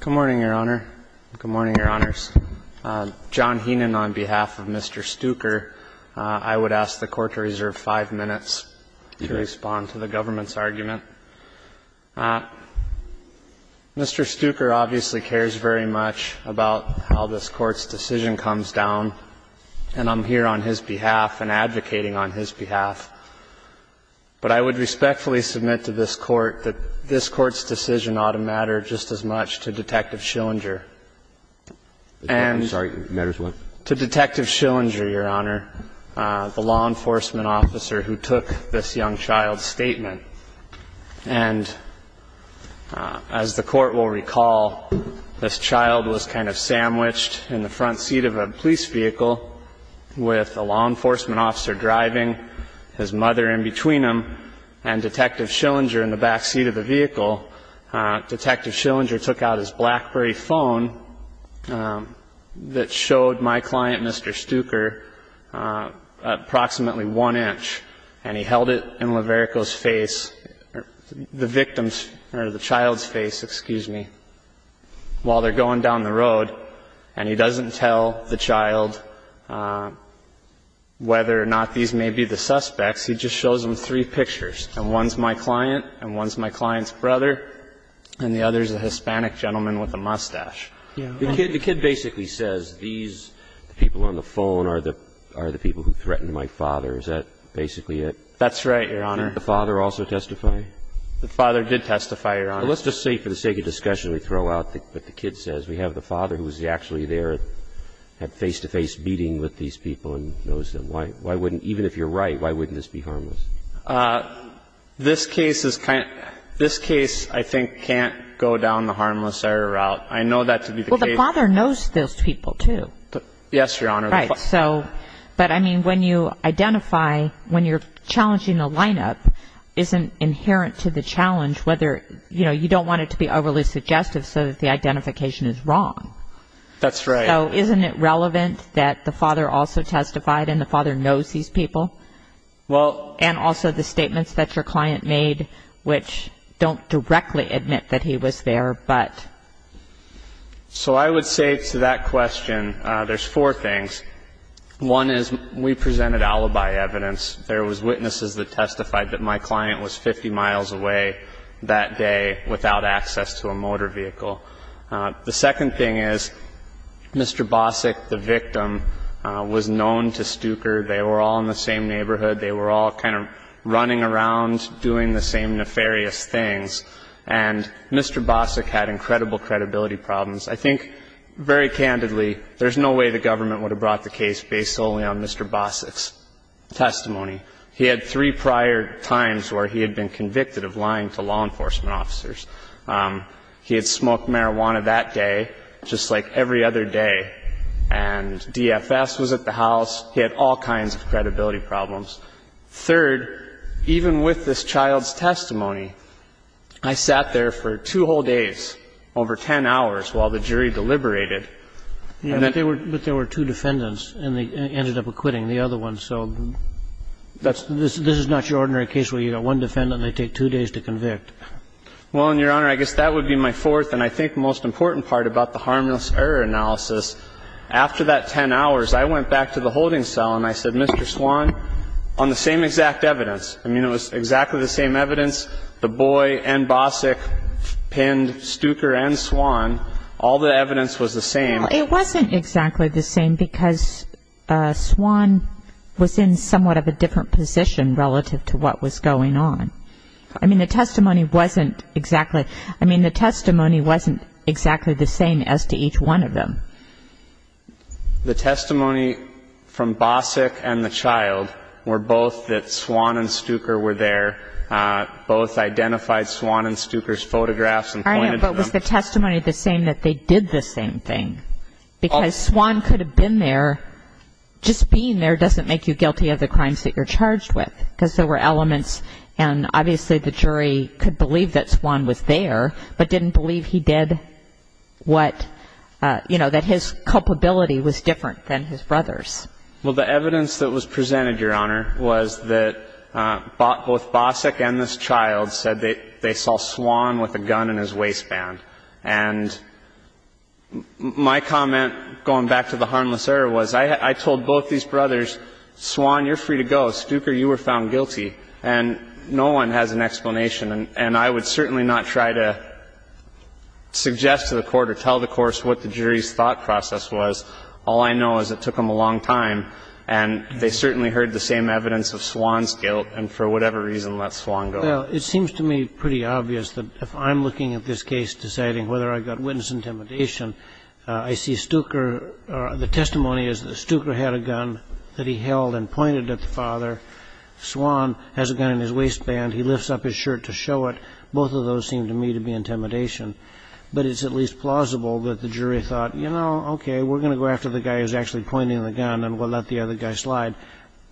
Good morning, Your Honor. Good morning, Your Honors. John Heenan on behalf of Mr. Stuker. I would ask the Court to reserve five minutes to respond to the government's argument. Mr. Stuker obviously cares very much about how this Court's decision comes down, and I'm here on his behalf and advocating on his behalf. But I would respectfully submit to this Court that this Court's decision ought to matter just as much to Detective Schillinger. And to Detective Schillinger, Your Honor, the law enforcement officer who took this young child's statement. And as the Court will recall, this child was kind of sandwiched in the front seat of a police vehicle with a law enforcement officer driving. His mother in between him and Detective Schillinger in the back seat of the vehicle. Detective Schillinger took out his BlackBerry phone that showed my client, Mr. Stuker, approximately one inch. And he held it in Laverico's face, the victim's, or the child's face, excuse me, while they're going down the road. And he doesn't tell the child whether or not these may be the suspects. He just shows them three pictures. And one's my client, and one's my client's brother, and the other's a Hispanic gentleman with a mustache. The kid basically says these people on the phone are the people who threatened my father. Is that basically it? That's right, Your Honor. The father did testify, Your Honor. Let's just say for the sake of discussion, we throw out what the kid says. We have the father who was actually there, had face-to-face meeting with these people and knows them. Why wouldn't, even if you're right, why wouldn't this be harmless? This case is kind of, this case, I think, can't go down the harmless error route. I know that to be the case. Well, the father knows those people, too. Yes, Your Honor. Right. But, I mean, when you identify, when you're challenging a lineup, isn't inherent to the challenge whether, you know, you don't want it to be overly suggestive so that the identification is wrong. That's right. So isn't it relevant that the father also testified and the father knows these people? Well... And also the statements that your client made, which don't directly admit that he was there, but... So I would say to that question, there's four things. One is we presented alibi evidence. There was witnesses that testified that my client was 50 miles away that day without access to a motor vehicle. The second thing is Mr. Bossack, the victim, was known to Stuker. They were all in the same neighborhood. They were all kind of running around doing the same nefarious things. And Mr. Bossack had incredible credibility problems. I think, very candidly, there's no way the government would have brought the case based solely on Mr. Bossack's testimony. He had three prior times where he had been convicted of lying to law enforcement officers. He had smoked marijuana that day, just like every other day. And DFS was at the house. He had all kinds of credibility problems. Third, even with this child's testimony, I sat there for two whole days, over 10 hours, while the jury deliberated. But there were two defendants, and they ended up acquitting the other one. So this is not your ordinary case where you have one defendant and they take two days to convict. Well, Your Honor, I guess that would be my fourth and I think most important part about the harmless error analysis. After that 10 hours, I went back to the holding cell and I said, Mr. Swan, on the same exact evidence, I mean, it was exactly the same evidence, the boy and Bossack pinned Stuker and Swan, all the evidence was the same. It wasn't exactly the same because Swan was in somewhat of a different position relative to what was going on. I mean, the testimony wasn't exactly the same as to each one of them. The testimony from Bossack and the child were both that Swan and Stuker were there. Both identified Swan and Stuker's photographs and pointed to them. I know, but was the testimony the same that they did the same thing? Because Swan could have been there. Just being there doesn't make you guilty of the crimes that you're charged with because there were elements and obviously the jury could believe that Swan was there but didn't believe he did what, you know, that his culpability was different than his brother's. Well, the evidence that was presented, Your Honor, was that both Bossack and this child said they saw Swan with a gun in his waistband. And my comment going back to the harmless error was I told both these brothers, Swan, you're free to go. Stuker, you were found guilty. And no one has an explanation. And I would certainly not try to suggest to the court or tell the court what the jury's thought process was. All I know is it took them a long time, and they certainly heard the same evidence of Swan's guilt and for whatever reason let Swan go. Well, it seems to me pretty obvious that if I'm looking at this case deciding whether I've got witness intimidation, I see Stuker or the testimony is that Stuker had a gun that he held and pointed at the father. Swan has a gun in his waistband. He lifts up his shirt to show it. Both of those seem to me to be intimidation. But it's at least plausible that the jury thought, you know, okay, we're going to go after the guy who's actually pointing the gun and we'll let the other guy slide.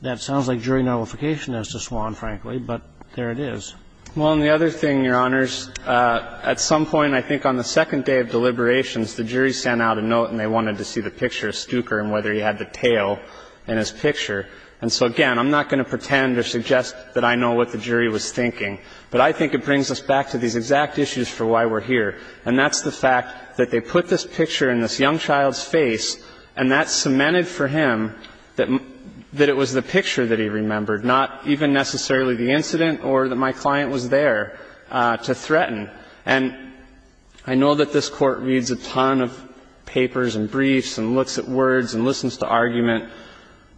That sounds like jury nullification as to Swan, frankly, but there it is. Well, and the other thing, Your Honors, at some point I think on the second day of deliberations, the jury sent out a note and they wanted to see the picture of Stuker and whether he had the tail in his picture. And so, again, I'm not going to pretend or suggest that I know what the jury was thinking, but I think it brings us back to these exact issues for why we're here, and that's the fact that they put this picture in this young child's face, and that cemented for him that it was the picture that he remembered, not even necessarily the incident or that my client was there to threaten. And I know that this Court reads a ton of papers and briefs and looks at words and listens to argument,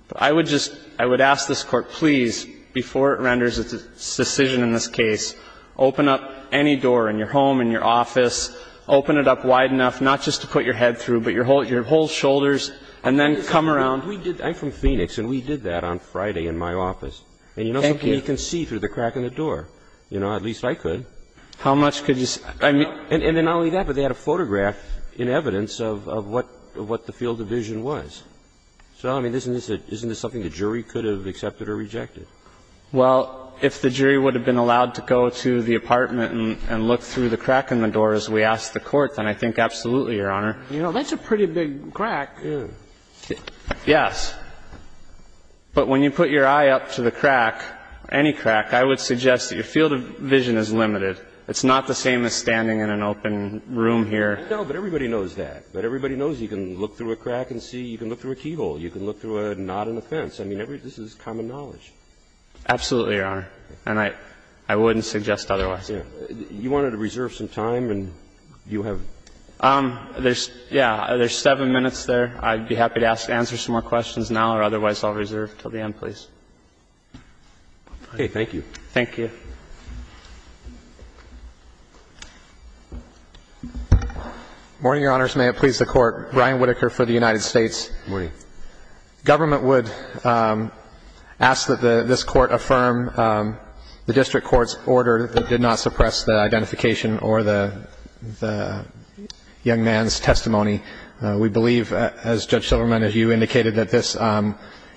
but I would just, I would ask this Court, please, before it renders its decision in this case, open up any door in your home, in your office, open it up wide enough, not just to put your head through, but your whole shoulders, and then come around. I'm from Phoenix and we did that on Friday in my office. Thank you. And you can see through the crack in the door. You know, at least I could. How much could you say? I mean, and not only that, but they had a photograph in evidence of what the field of vision was. So, I mean, isn't this something the jury could have accepted or rejected? Well, if the jury would have been allowed to go to the apartment and look through the crack in the door as we asked the Court, then I think absolutely, Your Honor. You know, that's a pretty big crack. Yes. But when you put your eye up to the crack, any crack, I would suggest that your eyes are open. It's not the same as standing in an open room here. No, but everybody knows that. But everybody knows you can look through a crack and see. You can look through a keyhole. You can look through a knot in a fence. I mean, this is common knowledge. Absolutely, Your Honor. And I wouldn't suggest otherwise. You wanted to reserve some time and you have. There's, yeah, there's seven minutes there. I'd be happy to answer some more questions now or otherwise I'll reserve until the end, please. Okay. Thank you. Thank you. Morning, Your Honors. May it please the Court. Brian Whitaker for the United States. Morning. Government would ask that this Court affirm the district court's order that did not suppress the identification or the young man's testimony. We believe, as Judge Silverman and you indicated, that this,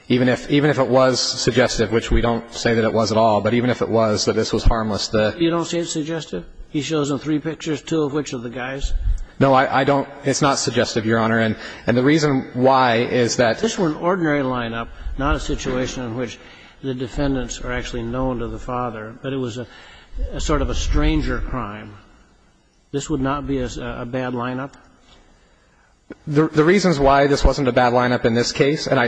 even if it was suggestive, which we don't say that it was at all, but even if it was, that this was harmless. You don't say it's suggestive? He shows them three pictures, two of which of the guys? No, I don't. It's not suggestive, Your Honor. And the reason why is that. This were an ordinary lineup, not a situation in which the defendants are actually known to the father, but it was a sort of a stranger crime. This would not be a bad lineup? The reasons why this wasn't a bad lineup in this case, and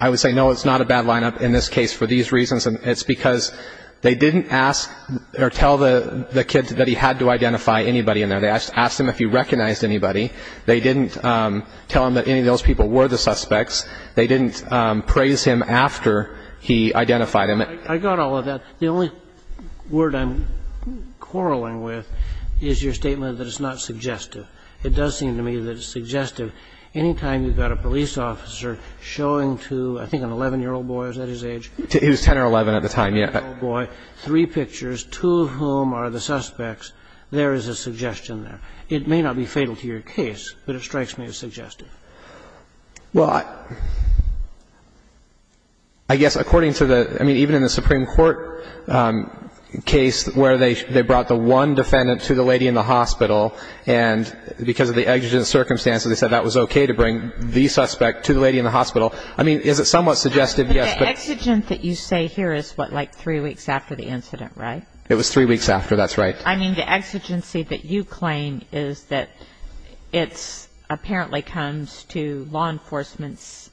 I would say, no, it's not a bad lineup in this case for these reasons, it's because they didn't ask or tell the kid that he had to identify anybody in there. They asked him if he recognized anybody. They didn't tell him that any of those people were the suspects. They didn't praise him after he identified him. I got all of that. The only word I'm quarreling with is your statement that it's not suggestive. It does seem to me that it's suggestive. And I think that's the reason why it's not suggestive. I think it's suggestive because it's a case where, anytime you've got a police officer showing to, I think an 11-year-old boy, is that his age? He was 10 or 11 at the time, yes. An 11-year-old boy, three pictures, two of whom are the suspects, there is a suggestion there. It may not be fatal to your case, but it strikes me as suggestive. Well, I guess according to the, I mean, even in the Supreme Court case where they brought the one defendant to the lady in the hospital, and because of the exigent circumstances, they said that was okay to bring the suspect to the lady in the hospital. I mean, is it somewhat suggestive? Yes. But the exigent that you say here is what, like three weeks after the incident, right? It was three weeks after. That's right. I mean, the exigency that you claim is that it's apparently comes to law enforcement's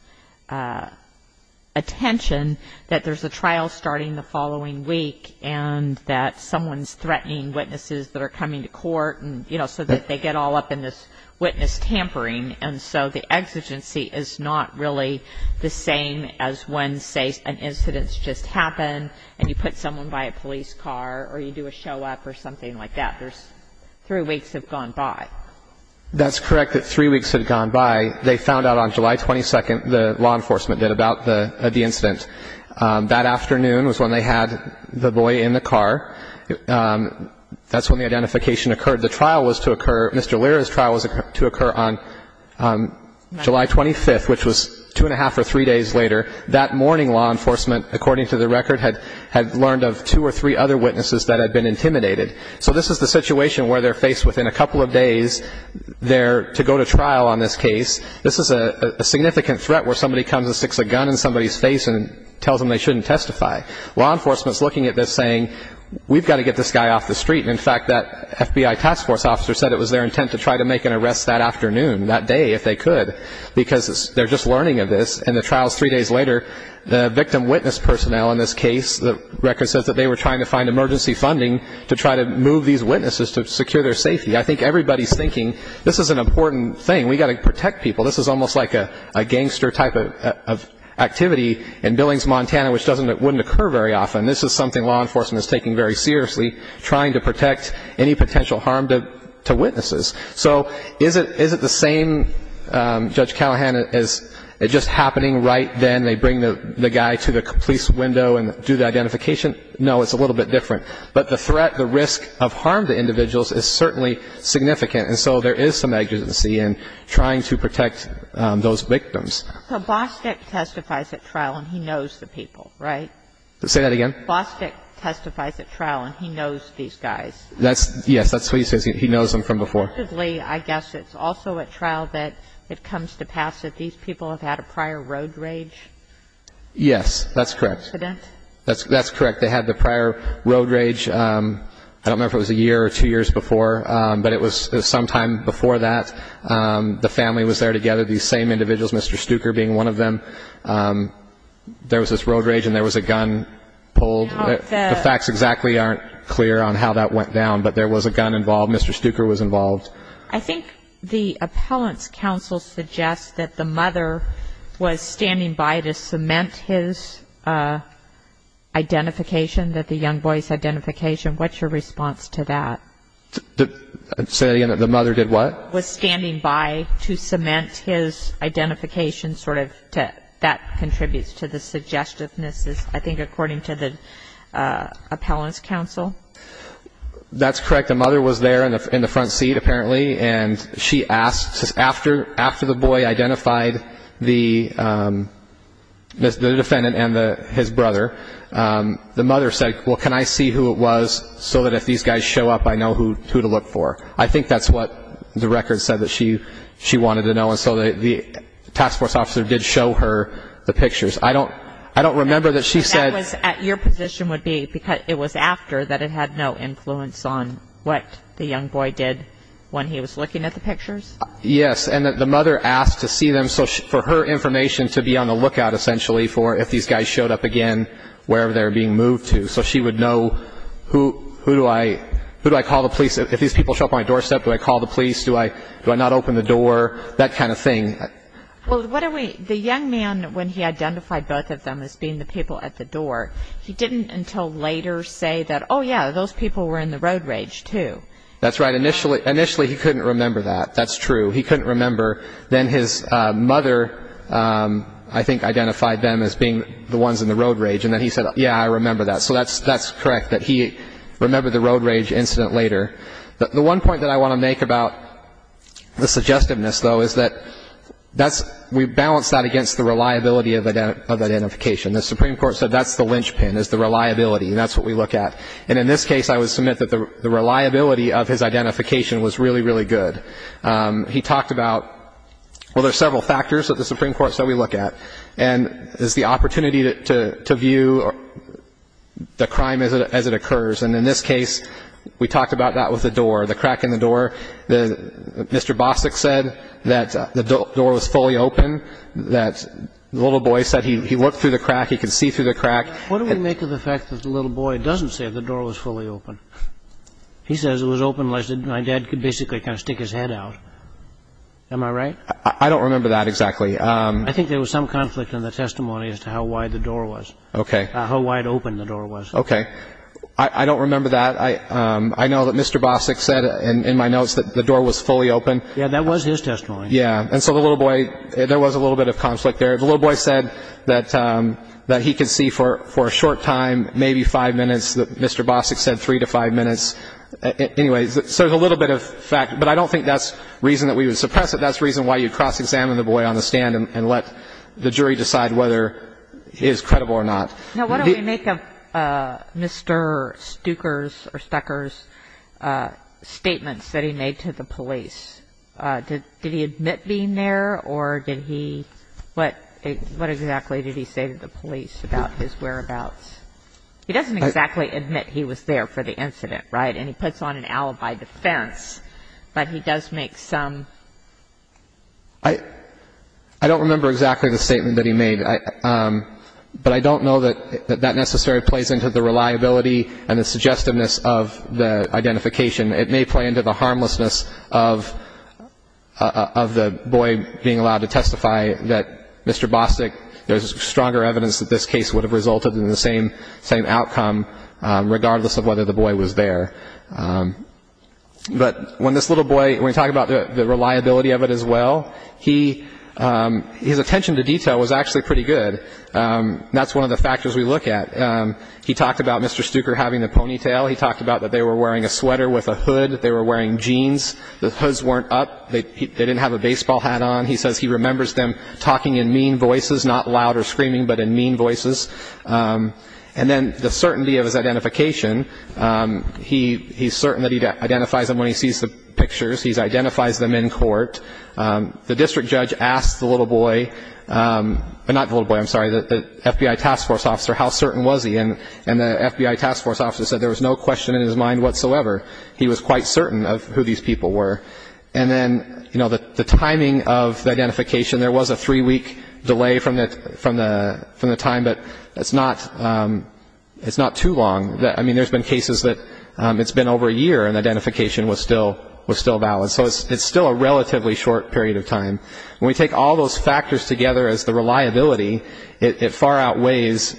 attention that there's a trial starting the following week and that someone's threatening witnesses that are coming to court and, you know, so that they get all up in this witness tampering. And so the exigency is not really the same as when, say, an incident's just happened and you put someone by a police car or you do a show-up or something like that. There's three weeks have gone by. That's correct that three weeks have gone by. They found out on July 22nd, the law enforcement did, about the incident. That afternoon was when they had the boy in the car. That's when the identification occurred. The trial was to occur, Mr. Lira's trial was to occur on July 25th, which was two and a half or three days later. That morning, law enforcement, according to the record, had learned of two or three other witnesses that had been intimidated. So this is the situation where they're faced within a couple of days there to go to trial on this case. This is a significant threat where somebody comes and sticks a gun in somebody's face and tells them they shouldn't testify. Law enforcement's looking at this saying, we've got to get this guy off the street. And, in fact, that FBI task force officer said it was their intent to try to make an arrest that afternoon, that day, if they could, because they're just learning of this. And the trial's three days later. The victim witness personnel in this case, the record says that they were trying to find emergency funding to try to move these witnesses to secure their safety. I think everybody's thinking this is an important thing. We've got to protect people. This is almost like a gangster type of activity in Billings, Montana, which wouldn't occur very often. This is something law enforcement is taking very seriously, trying to protect any potential harm to witnesses. So is it the same, Judge Callahan, as just happening right then, they bring the guy to the police window and do the identification? No, it's a little bit different. But the threat, the risk of harm to individuals is certainly significant. And so there is some agency in trying to protect those victims. So Bostick testifies at trial, and he knows the people, right? Say that again? Bostick testifies at trial, and he knows these guys. Yes, that's what he says. He knows them from before. I guess it's also at trial that it comes to pass that these people have had a prior road rage. Yes, that's correct. That's correct. They had the prior road rage. I don't remember if it was a year or two years before, but it was sometime before that. The family was there together, these same individuals, Mr. Stuker being one of them. There was this road rage, and there was a gun pulled. The facts exactly aren't clear on how that went down, but there was a gun involved. Mr. Stuker was involved. I think the appellant's counsel suggests that the mother was standing by to cement his identification, that the young boy's identification. What's your response to that? Say that again? The mother did what? Was standing by to cement his identification. That contributes to the suggestiveness, I think, according to the appellant's counsel. That's correct. The mother was there in the front seat, apparently, and she asked after the boy identified the defendant and his brother, the mother said, well, can I see who it was so that if these guys show up, I know who to look for? I think that's what the record said that she wanted to know. And so the task force officer did show her the pictures. I don't remember that she said. Your position would be it was after that it had no influence on what the young boy did when he was looking at the pictures? Yes. And the mother asked to see them for her information to be on the lookout, essentially, for if these guys showed up again wherever they were being moved to so she would know who do I call the police? If these people show up on my doorstep, do I call the police? Do I not open the door? That kind of thing. Well, the young man, when he identified both of them as being the people at the door, he didn't until later say that, oh, yeah, those people were in the road rage, too. That's right. Initially he couldn't remember that. That's true. He couldn't remember. Then his mother, I think, identified them as being the ones in the road rage, and then he said, yeah, I remember that. So that's correct that he remembered the road rage incident later. The one point that I want to make about the suggestiveness, though, is that we balance that against the reliability of identification. The Supreme Court said that's the linchpin is the reliability, and that's what we look at. And in this case, I would submit that the reliability of his identification was really, really good. He talked about, well, there are several factors that the Supreme Court said we look at, and it's the opportunity to view the crime as it occurs. And in this case, we talked about that with the door, the crack in the door. Mr. Bostic said that the door was fully open, that the little boy said he looked through the crack, he could see through the crack. What do we make of the fact that the little boy doesn't say the door was fully open? He says it was open like my dad could basically kind of stick his head out. Am I right? I don't remember that exactly. I think there was some conflict in the testimony as to how wide the door was, how wide open the door was. Okay. I don't remember that. I know that Mr. Bostic said in my notes that the door was fully open. Yeah, that was his testimony. Yeah. And so the little boy, there was a little bit of conflict there. The little boy said that he could see for a short time, maybe five minutes. Mr. Bostic said three to five minutes. Anyway, so there's a little bit of fact. But I don't think that's the reason that we would suppress it. That's the reason why you cross-examine the boy on the stand and let the jury decide whether he is credible or not. Now, what do we make of Mr. Stucker's statements that he made to the police? Did he admit being there, or did he – what exactly did he say to the police about his whereabouts? He doesn't exactly admit he was there for the incident, right? And he puts on an alibi defense, but he does make some – I don't remember exactly the statement that he made. But I don't know that that necessarily plays into the reliability and the suggestiveness of the identification. It may play into the harmlessness of the boy being allowed to testify that Mr. Bostic – there's stronger evidence that this case would have resulted in the same outcome, regardless of whether the boy was there. But when this little boy – when we talk about the reliability of it as well, his attention to detail was actually pretty good. That's one of the factors we look at. He talked about Mr. Stucker having the ponytail. He talked about that they were wearing a sweater with a hood. They were wearing jeans. The hoods weren't up. They didn't have a baseball hat on. He says he remembers them talking in mean voices, not loud or screaming, but in mean voices. And then the certainty of his identification, he's certain that he identifies them when he sees the pictures. He identifies them in court. The district judge asked the little boy – not the little boy, I'm sorry, the FBI task force officer how certain was he. And the FBI task force officer said there was no question in his mind whatsoever. He was quite certain of who these people were. And then the timing of the identification, there was a three-week delay from the time, but it's not too long. I mean, there's been cases that it's been over a year and identification was still valid. So it's still a relatively short period of time. When we take all those factors together as the reliability, it far outweighs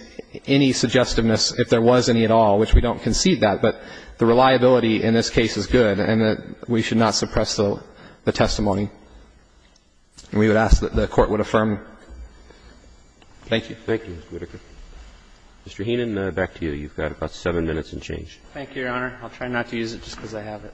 any suggestiveness if there was any at all, which we don't concede that. But the reliability in this case is good, and we should not suppress the testimony. And we would ask that the Court would affirm. Thank you. Thank you, Mr. Whitaker. Mr. Heenan, back to you. You've got about seven minutes and change. Thank you, Your Honor. I'll try not to use it just because I have it.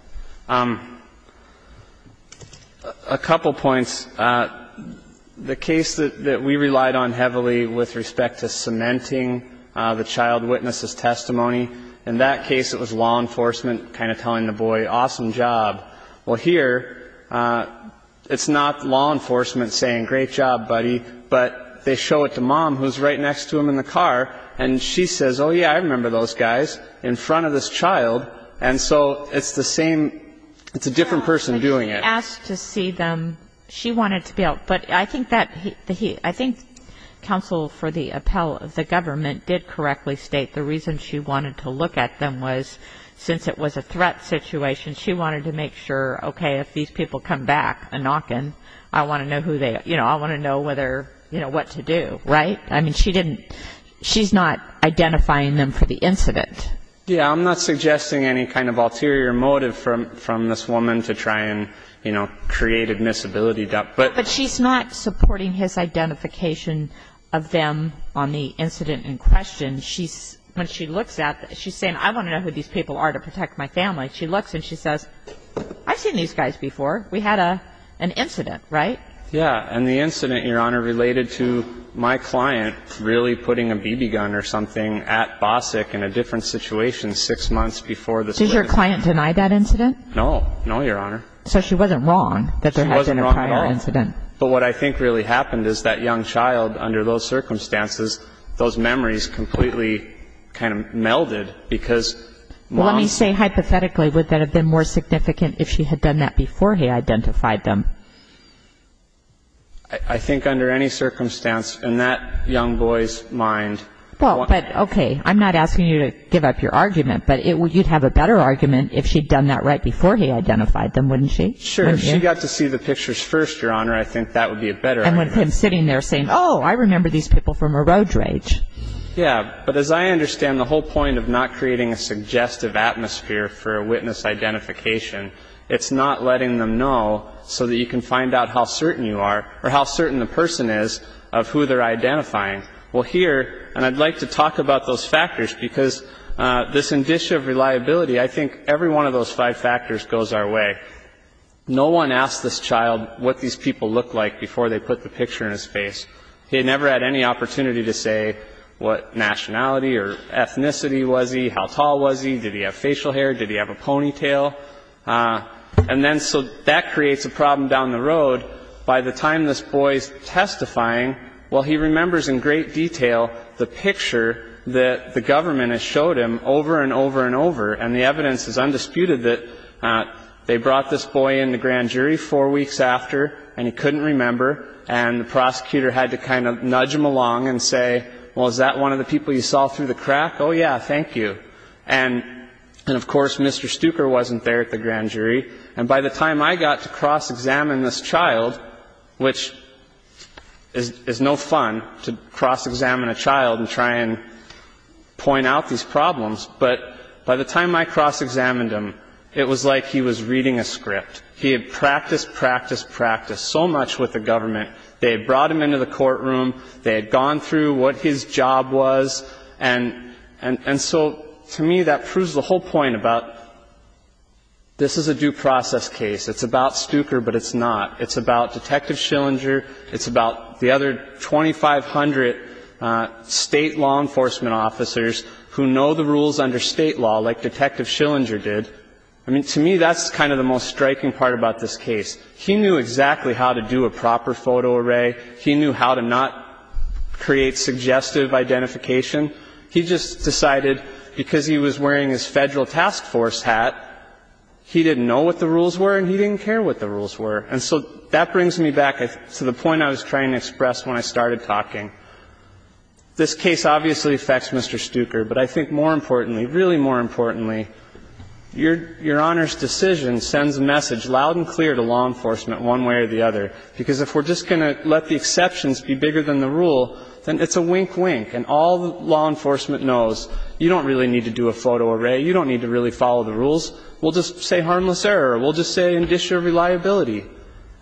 A couple points. The case that we relied on heavily with respect to cementing the child witness's testimony, in that case it was law enforcement kind of telling the boy, awesome job. Well, here it's not law enforcement saying, great job, buddy, but they show it to Mom, who's right next to him in the car, and she says, oh, yeah, I remember those guys, in front of this child. And so it's the same, it's a different person doing it. She asked to see them. She wanted to be able to. But I think that he, I think counsel for the appellate of the government did correctly state the reason she wanted to look at them was since it was a threat situation, she wanted to make sure, okay, if these people come back, a knock-in, I want to know who they, you know, I want to know whether, you know, what to do, right? I mean, she didn't, she's not identifying them for the incident. Yeah, I'm not suggesting any kind of ulterior motive from this woman to try and, you know, create admissibility doubt. But she's not supporting his identification of them on the incident in question. When she looks at them, she's saying, I want to know who these people are to protect my family. She looks and she says, I've seen these guys before. We had an incident, right? Yeah, and the incident, Your Honor, related to my client really putting a BB gun or something at BOSIC in a different situation six months before the split. Did your client deny that incident? No. No, Your Honor. So she wasn't wrong that there had been a prior incident. She wasn't wrong at all. But what I think really happened is that young child, under those circumstances, those memories completely kind of melded because mom. Well, let me say hypothetically, would that have been more significant if she had done that before he identified them? I think under any circumstance, in that young boy's mind. Well, but, okay, I'm not asking you to give up your argument, but you'd have a better argument if she'd done that right before he identified them, wouldn't she? Sure. If she got to see the pictures first, Your Honor, I think that would be a better argument. And with him sitting there saying, oh, I remember these people from a road rage. Yeah. But as I understand the whole point of not creating a suggestive atmosphere for a witness identification, it's not letting them know so that you can find out how certain you are or how certain the person is of who they're identifying. Well, here, and I'd like to talk about those factors because this indicia of reliability, I think every one of those five factors goes our way. No one asked this child what these people looked like before they put the picture in his face. He had never had any opportunity to say what nationality or ethnicity was he, how tall was he, did he have facial hair, did he have a ponytail. And then so that creates a problem down the road. By the time this boy's testifying, well, he remembers in great detail the picture that the government has showed him over and over and over, and the evidence is undisputed that they brought this boy in to grand jury four weeks after and he couldn't remember, and the prosecutor had to kind of nudge him along and say, well, is that one of the people you saw through the crack? Oh, yeah. Thank you. And, of course, Mr. Stuker wasn't there at the grand jury. And by the time I got to cross-examine this child, which is no fun to cross-examine a child and try and point out these problems, but by the time I cross-examined him, it was like he was reading a script. He had practiced, practiced, practiced so much with the government. They had brought him into the courtroom. They had gone through what his job was. And so to me that proves the whole point about this is a due process case. It's about Stuker, but it's not. It's about Detective Schillinger. It's about the other 2,500 state law enforcement officers who know the rules under state law like Detective Schillinger did. I mean, to me that's kind of the most striking part about this case. He knew exactly how to do a proper photo array. He knew how to not create suggestive identification. He just decided because he was wearing his federal task force hat, he didn't know what the rules were and he didn't care what the rules were. And so that brings me back to the point I was trying to express when I started talking. This case obviously affects Mr. Stuker, but I think more importantly, really more importantly, Your Honor's decision sends a message loud and clear to law enforcement one way or the other, because if we're just going to let the exceptions be bigger than the rule, then it's a wink, wink. And all law enforcement knows, you don't really need to do a photo array. You don't need to really follow the rules. We'll just say harmless error. We'll just say indicious reliability.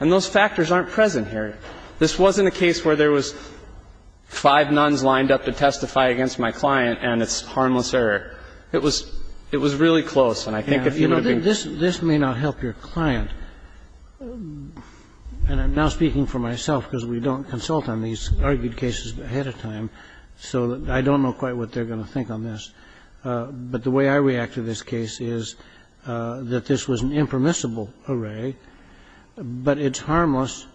And those factors aren't present here. This wasn't a case where there was five nuns lined up to testify against my client and it's harmless error. It was really close. And I think if you would have been clear. Roberts. You know, this may not help your client. And I'm now speaking for myself because we don't consult on these argued cases ahead of time. So I don't know quite what they're going to think on this. But the way I react to this case is that this was an impermissible array, but it's harmless.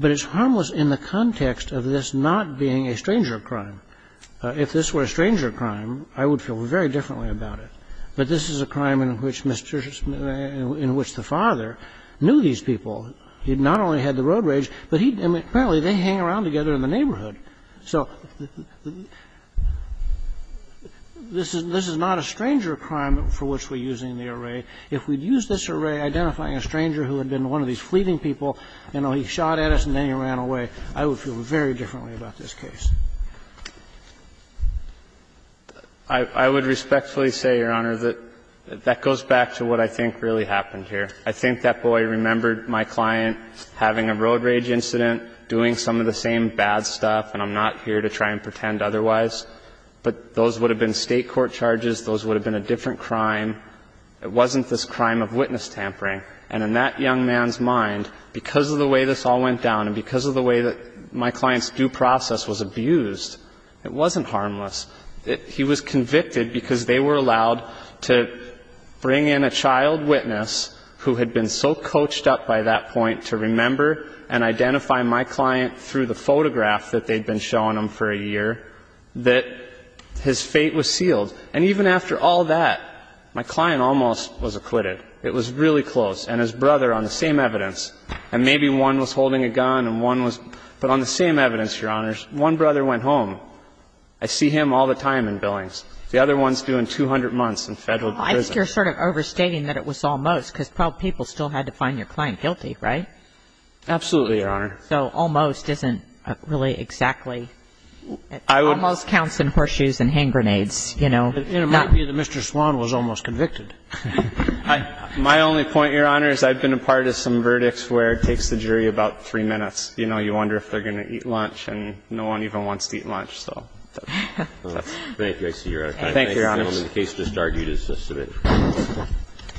But it's harmless in the context of this not being a stranger crime. If this were a stranger crime, I would feel very differently about it. But this is a crime in which the father knew these people. He not only had the road rage, but apparently they hang around together in the neighborhood. So this is not a stranger crime for which we're using the array. If we'd used this array identifying a stranger who had been one of these fleeting people, you know, he shot at us and then he ran away, I would feel very differently about this case. I would respectfully say, Your Honor, that that goes back to what I think really happened here. I think that boy remembered my client having a road rage incident, doing some of the same bad stuff, and I'm not here to try and pretend otherwise. But those would have been State court charges. Those would have been a different crime. It wasn't this crime of witness tampering. And in that young man's mind, because of the way this all went down and because of the way that my client's due process was abused, it wasn't harmless. He was convicted because they were allowed to bring in a child witness who had been so coached up by that point to remember and identify my client through the photograph that they'd been showing him for a year that his fate was sealed. And even after all that, my client almost was acquitted. It was really close. And his brother, on the same evidence, and maybe one was holding a gun and one was ---- but on the same evidence, Your Honors, one brother went home. I see him all the time in Billings. The other one's due in 200 months in Federal prison. Well, I think you're sort of overstating that it was almost, because 12 people still had to find your client guilty, right? Absolutely, Your Honor. So almost isn't really exactly ---- I would ---- Almost counts in horseshoes and hand grenades, you know. It might be that Mr. Swan was almost convicted. My only point, Your Honor, is I've been a part of some verdicts where it takes the jury about three minutes. You know, you wonder if they're going to eat lunch, and no one even wants to eat lunch, so that's ---- Thank you. I see you're out of time. Thank you, Your Honors. The case just argued is just a bit ----